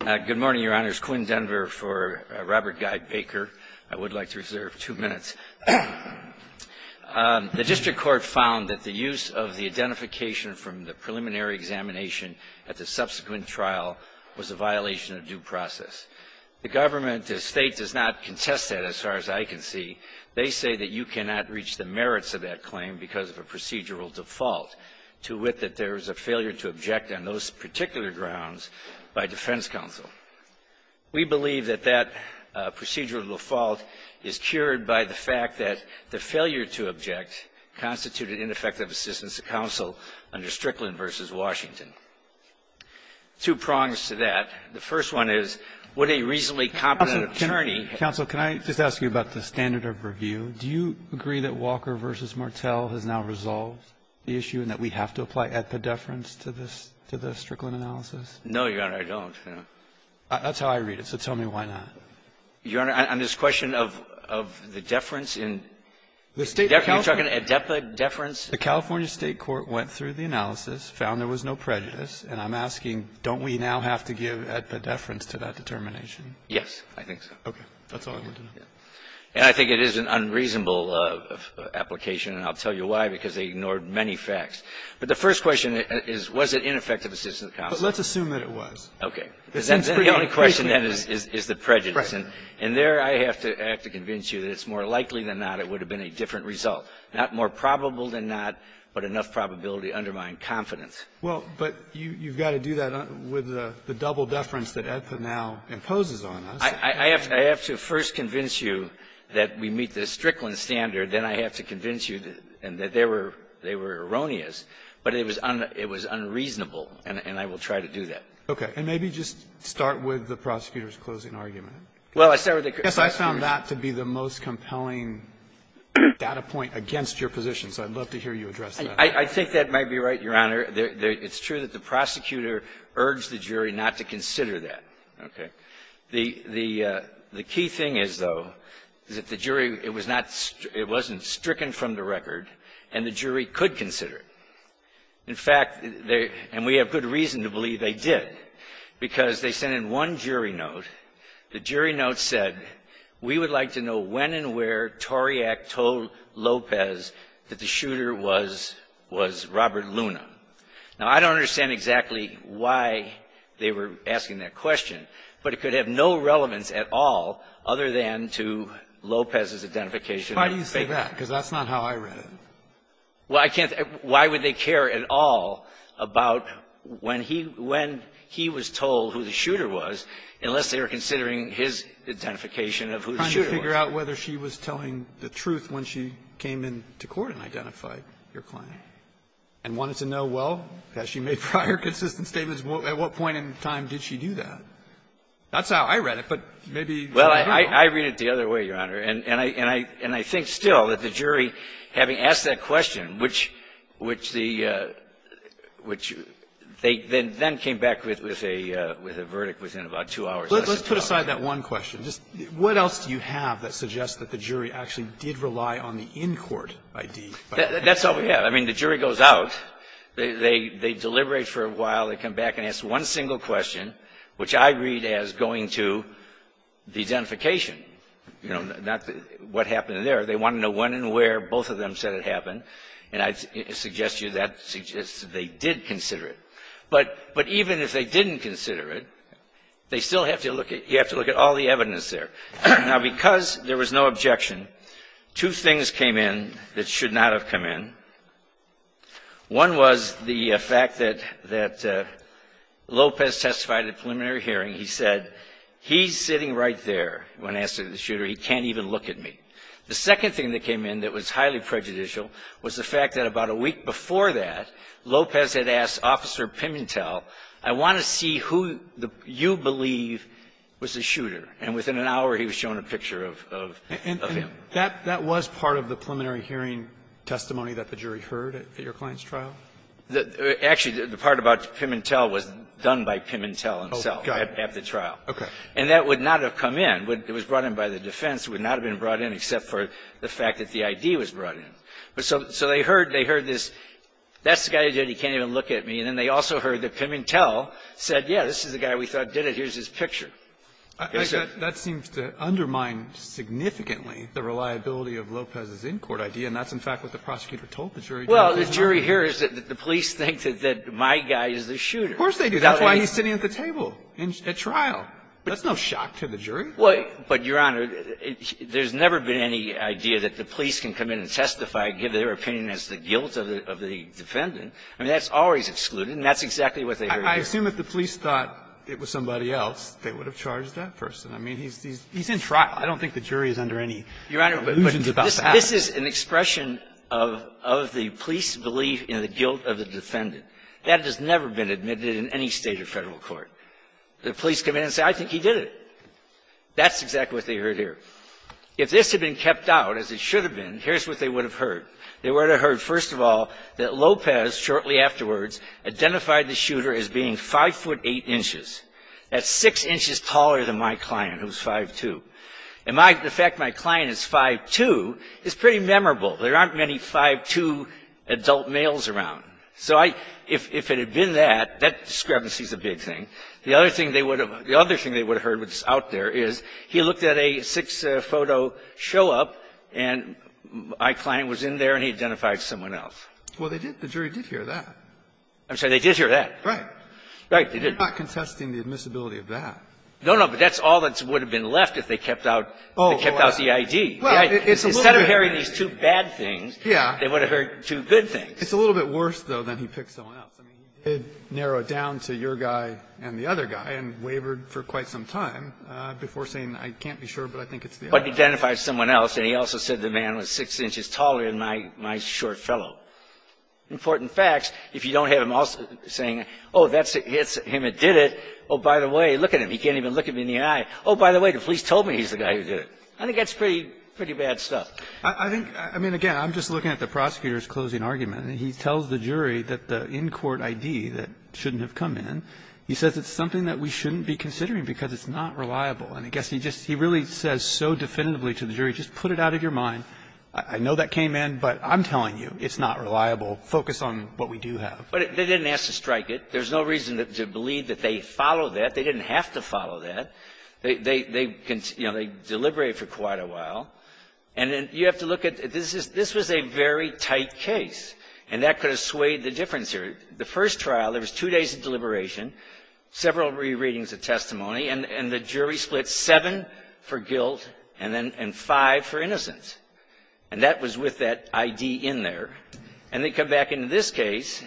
Good morning, Your Honors. Quinn Denver for Robert Guy Baker. I would like to reserve two minutes. The district court found that the use of the identification from the preliminary examination at the subsequent trial was a violation of due process. The government, the state, does not contest that, as far as I can see. They say that you cannot reach the merits of that claim because of a procedural default, to wit that there is a failure to object on those particular grounds by defense counsel. We believe that that procedural default is cured by the fact that the failure to object constituted ineffective assistance to counsel under Strickland v. Washington. Two prongs to that. The first one is, would a reasonably competent attorney Counsel, counsel, can I just ask you about the standard of review? Do you agree that Walker v. Martel has now resolved the issue and that we have to apply adpedeference to this to the Strickland analysis? No, Your Honor, I don't, no. That's how I read it, so tell me why not. Your Honor, on this question of the deference in the State of California, adepa deference The California State court went through the analysis, found there was no prejudice. And I'm asking, don't we now have to give adpedeference to that determination? Yes, I think so. Okay. That's all I wanted to know. And I think it is an unreasonable application, and I'll tell you why, because they ignored many facts. But the first question is, was it ineffective assistance to counsel? But let's assume that it was. Okay. Because then the only question then is the prejudice. Right. And there I have to convince you that it's more likely than not it would have been a different result. Not more probable than not, but enough probability to undermine confidence. Well, but you've got to do that with the double deference that adepa now imposes on us. I have to first convince you that we meet the Strickland standard. Then I have to convince you that they were erroneous. But it was unreasonable, and I will try to do that. Okay. And maybe just start with the prosecutor's closing argument. Well, I started with the prosecutor's closing argument. I guess I found that to be the most compelling data point against your position, so I'd love to hear you address that. I think that might be right, Your Honor. It's true that the prosecutor urged the jury not to consider that. Okay. The key thing is, though, is that the jury, it was not stricken, it wasn't stricken from the record, and the jury could consider it. In fact, and we have good reason to believe they did, because they sent in one jury note. The jury note said, we would like to know when and where Tauriac told Lopez that the shooter was Robert Luna. Now, I don't understand exactly why they were asking that question, but it could have no relevance at all other than to Lopez's identification of a fake. Why do you say that? Because that's not how I read it. Well, I can't think of why would they care at all about when he was told who the shooter was, unless they were considering his identification of who the shooter was. Trying to figure out whether she was telling the truth when she came into court and identified your client, and wanted to know, well, has she made prior consistent statements? At what point in time did she do that? That's how I read it, but maybe you do. Well, I read it the other way, Your Honor. And I think still that the jury, having asked that question, which the ‑‑ which they then came back with a verdict within about two hours. Let's put aside that one question. Just what else do you have that suggests that the jury actually did rely on the in-court ID? That's all we have. I mean, the jury goes out, they deliberate for a while, they come back and ask one single question, which I read as going to the identification. You know, not what happened there. They wanted to know when and where both of them said it happened. And I suggest to you that suggests that they did consider it. But even if they didn't consider it, they still have to look at ‑‑ you have to look at all the evidence there. Now, because there was no objection, two things came in that should not have come in. One was the fact that Lopez testified at preliminary hearing. He said, he's sitting right there when asked to be the shooter. He can't even look at me. The second thing that came in that was highly prejudicial was the fact that about a week before that, Lopez had asked Officer Pimentel, I want to see who you believe was the shooter. And within an hour, he was shown a picture of him. And that was part of the preliminary hearing testimony that the jury heard at your client's trial? Actually, the part about Pimentel was done by Pimentel himself. At the trial. Okay. And that would not have come in. It was brought in by the defense. It would not have been brought in except for the fact that the ID was brought in. So they heard this, that's the guy who did it. He can't even look at me. And then they also heard that Pimentel said, yeah, this is the guy we thought did it. Here's his picture. That seems to undermine significantly the reliability of Lopez's in-court idea. And that's, in fact, what the prosecutor told the jury. Well, the jury hears that the police think that my guy is the shooter. Of course they do. That's why he's sitting at the table. At trial. That's no shock to the jury. Well, but, Your Honor, there's never been any idea that the police can come in and testify, give their opinion as the guilt of the defendant. I mean, that's always excluded, and that's exactly what they heard. I assume if the police thought it was somebody else, they would have charged that person. I mean, he's in trial. I don't think the jury is under any illusions about that. Your Honor, this is an expression of the police belief in the guilt of the defendant. That has never been admitted in any State or Federal court. The police come in and say, I think he did it. That's exactly what they heard here. If this had been kept out, as it should have been, here's what they would have heard. They would have heard, first of all, that Lopez, shortly afterwards, identified the shooter as being 5'8", that's 6 inches taller than my client, who's 5'2". And the fact my client is 5'2", is pretty memorable. There aren't many 5'2 adult males around. So I – if it had been that, that discrepancy is a big thing. The other thing they would have – the other thing they would have heard that's out there is he looked at a six-photo show-up, and my client was in there, and he identified someone else. Well, they did – the jury did hear that. I'm sorry. They did hear that. Right. Right. They did. You're not contesting the admissibility of that. No, no. But that's all that would have been left if they kept out – they kept out the I.D. Well, it's a little bit – Instead of hearing these two bad things, they would have heard two good things. It's a little bit worse, though, than he picked someone else. I mean, he did narrow it down to your guy and the other guy and wavered for quite some time before saying, I can't be sure, but I think it's the other guy. But he identified someone else, and he also said the man was 6 inches taller than my short fellow. Important facts. If you don't have him also saying, oh, that's him that did it, oh, by the way, look at him. He can't even look him in the eye. Oh, by the way, the police told me he's the guy who did it. I think that's pretty bad stuff. I think – I mean, again, I'm just looking at the prosecutor's closing argument. He tells the jury that the in-court I.D. that shouldn't have come in, he says it's something that we shouldn't be considering because it's not reliable. And I guess he just – he really says so definitively to the jury, just put it out of your mind. I know that came in, but I'm telling you, it's not reliable. Focus on what we do have. But they didn't ask to strike it. There's no reason to believe that they follow that. They didn't have to follow that. They deliberated for quite a while. And then you have to look at – this was a very tight case. And that could have swayed the difference here. The first trial, there was two days of deliberation, several rereadings of testimony, and the jury split seven for guilt and five for innocence. And that was with that I.D. in there. And they come back into this case,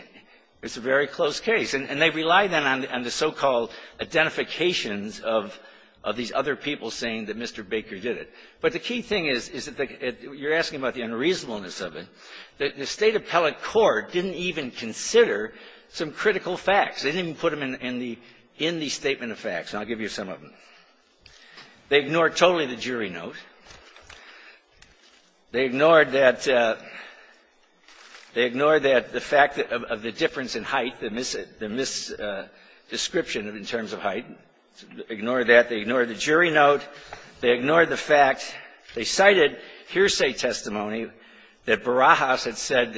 it's a very close case. And they rely then on the so-called identifications of these other people saying that Mr. Baker did it. But the key thing is, is that you're asking about the unreasonableness of it. The State appellate court didn't even consider some critical facts. They didn't even put them in the statement of facts. And I'll give you some of them. They ignored totally the jury note. They ignored that – they ignored that the fact of the difference in height, the mis- – the mis-description in terms of height. Ignored that. They ignored the jury note. They ignored the fact – they cited hearsay testimony that Barajas had said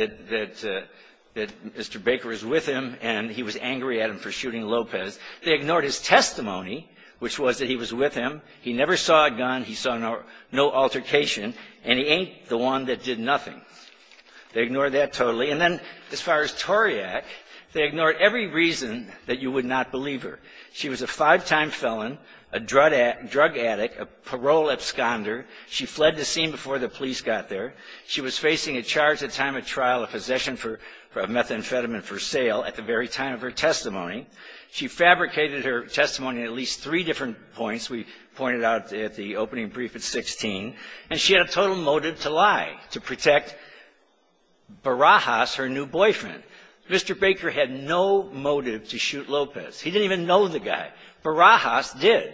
that Mr. Baker was with him and he was angry at him for shooting Lopez. They ignored his testimony, which was that he was with him. He never saw a gun. He saw no altercation. And he ain't the one that did nothing. They ignored that totally. And then, as far as Toriak, they ignored every reason that you would not believe her. She was a five-time felon, a drug addict, a parole absconder. She fled the scene before the police got there. She was facing a charge at time of trial of possession for a methamphetamine for sale at the very time of her testimony. She fabricated her testimony in at least three different points. We pointed out at the opening brief at 16. And she had a total motive to lie, to protect Barajas, her new boyfriend. Mr. Baker had no motive to shoot Lopez. He didn't even know the guy. Barajas did.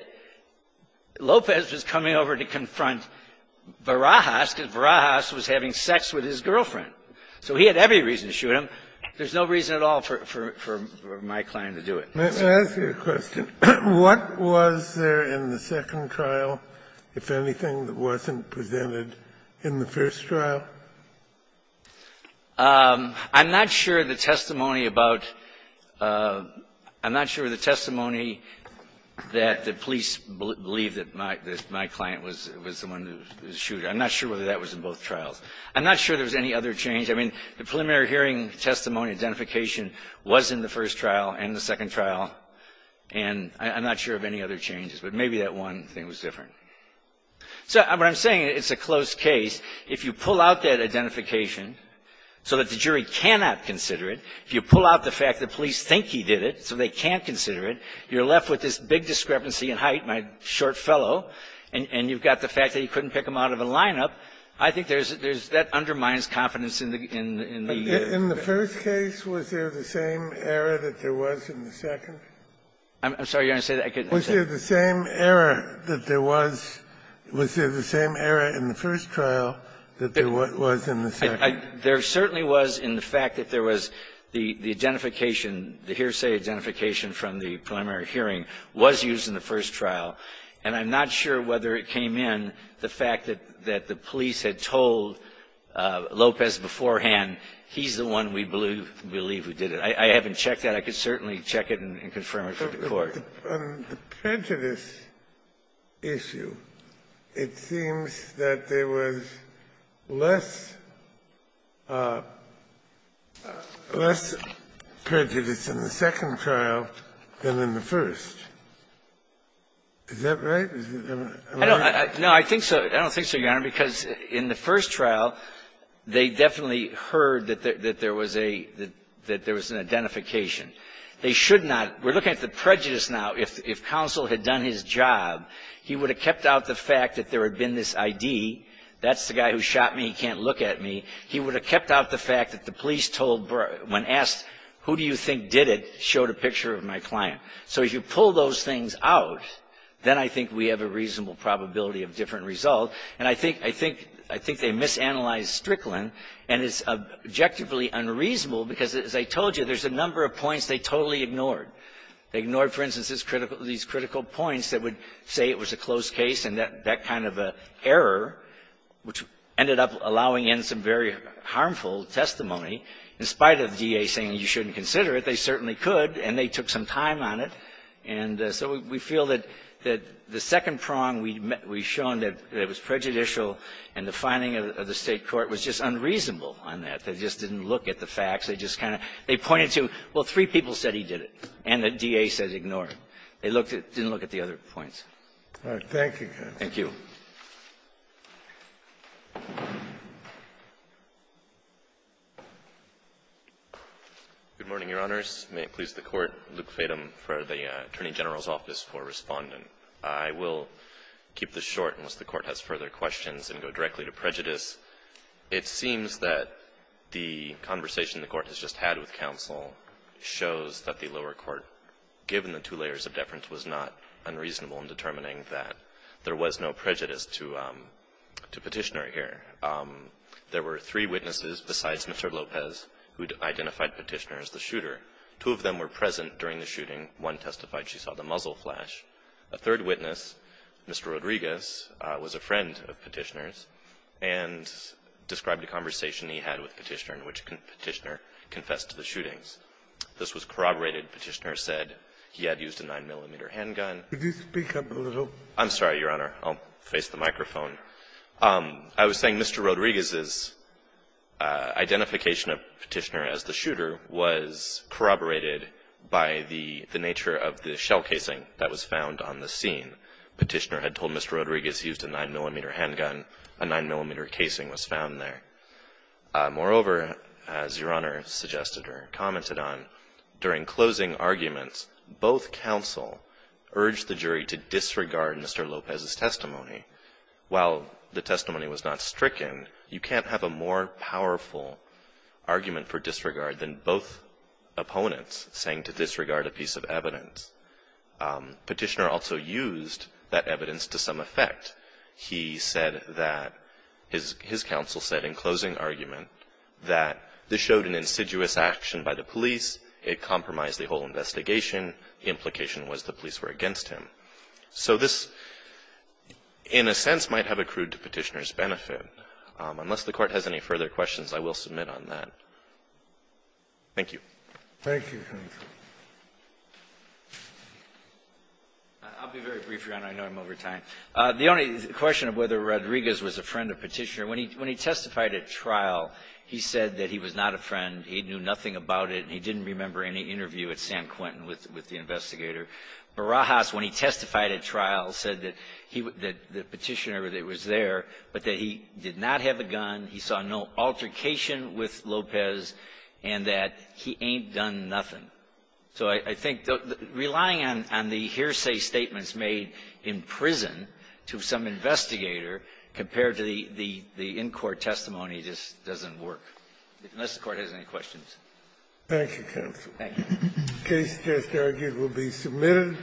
Lopez was coming over to confront Barajas because Barajas was having sex with his girlfriend. So he had every reason to shoot him. There's no reason at all for my client to do it. Kennedy. Kennedy. Let me ask you a question. What was there in the second trial, if anything, that wasn't presented in the first trial? I'm not sure the testimony about the testimony that the police believed that my client was the one who was shooting. I'm not sure whether that was in both trials. I'm not sure there was any other change. I mean, the preliminary hearing testimony identification was in the first trial and the second trial, and I'm not sure of any other changes. But maybe that one thing was different. So what I'm saying, it's a closed case. If you pull out that identification so that the jury cannot consider it, if you pull out the fact that police think he did it so they can't consider it, you're left with this big discrepancy in height, my short fellow, and you've got the fact that you couldn't pick him out of a lineup, I think there's that undermines confidence in the ---- In the first case, was there the same error that there was in the second? I'm sorry. You want to say that? I couldn't understand. Was there the same error that there was in the first trial that there was in the second? There certainly was in the fact that there was the identification, the hearsay identification from the preliminary hearing was used in the first trial. And I'm not sure whether it came in, the fact that the police had told Lopez beforehand he's the one we believe who did it. I haven't checked that. I could certainly check it and confirm it for the Court. On the prejudice issue, it seems that there was less ---- less prejudice in the second trial than in the first. Is that right? I don't think so, I don't think so, Your Honor, because in the first trial, they definitely heard that there was a ---- that there was an identification. They should not ---- we're looking at the prejudice now. If counsel had done his job, he would have kept out the fact that there had been this ID, that's the guy who shot me, he can't look at me. He would have kept out the fact that the police told ---- when asked, who do you think did it, showed a picture of my client. So if you pull those things out, then I think we have a reasonable probability of different result. And I think they misanalyzed Strickland, and it's objectively unreasonable because, as I told you, there's a number of points they totally ignored. They ignored, for instance, this critical ---- these critical points that would say it was a closed case and that kind of an error, which ended up allowing in some very harmful testimony. In spite of the DA saying you shouldn't consider it, they certainly could, and they took some time on it. And so we feel that the second prong we've shown that it was prejudicial and the finding of the State court was just unreasonable on that. They just didn't look at the facts. They just kind of ---- they pointed to, well, three people said he did it, and the DA says ignore it. They looked at the other points. Kennedy. Thank you. Good morning, Your Honors. May it please the Court, Luke Fadum, for the Attorney General's office for Respondent. I will keep this short unless the Court has further questions and go directly to prejudice. It seems that the conversation the Court has just had with counsel shows that the lower court, given the two layers of deference, was not unreasonable in determining that there was no prejudice to Petitioner here. There were three witnesses besides Mr. Lopez who identified Petitioner as the shooter. Two of them were present during the shooting. One testified she saw the muzzle flash. A third witness, Mr. Rodriguez, was a friend of Petitioner's, and Mr. Rodriguez described a conversation he had with Petitioner in which Petitioner confessed to the shootings. This was corroborated. Petitioner said he had used a 9-millimeter handgun. Could you speak up a little? I'm sorry, Your Honor. I'll face the microphone. I was saying Mr. Rodriguez's identification of Petitioner as the shooter was corroborated by the nature of the shell casing that was found on the scene. Petitioner had told Mr. Rodriguez he used a 9-millimeter handgun. A 9-millimeter casing was found there. Moreover, as Your Honor suggested or commented on, during closing arguments, both counsel urged the jury to disregard Mr. Lopez's testimony. While the testimony was not stricken, you can't have a more powerful argument for disregard than both opponents saying to disregard a piece of evidence. Petitioner also used that evidence to some effect. He said that his counsel said in closing argument that this showed an insidious action by the police. It compromised the whole investigation. The implication was the police were against him. So this, in a sense, might have accrued to Petitioner's benefit. Unless the Court has any further questions, I will submit on that. Thank you. Thank you, Your Honor. I'll be very brief, Your Honor. I know I'm over time. The only question of whether Rodriguez was a friend of Petitioner. When he testified at trial, he said that he was not a friend. He knew nothing about it. He didn't remember any interview at San Quentin with the investigator. Barajas, when he testified at trial, said that the Petitioner was there, but that he did not have a gun, he saw no altercation with Lopez, and that he ain't done nothing. So I think relying on the hearsay statements made in prison to some investigator compared to the in-court testimony just doesn't work, unless the Court has any questions. Thank you, counsel. Thank you. The case just argued will be submitted.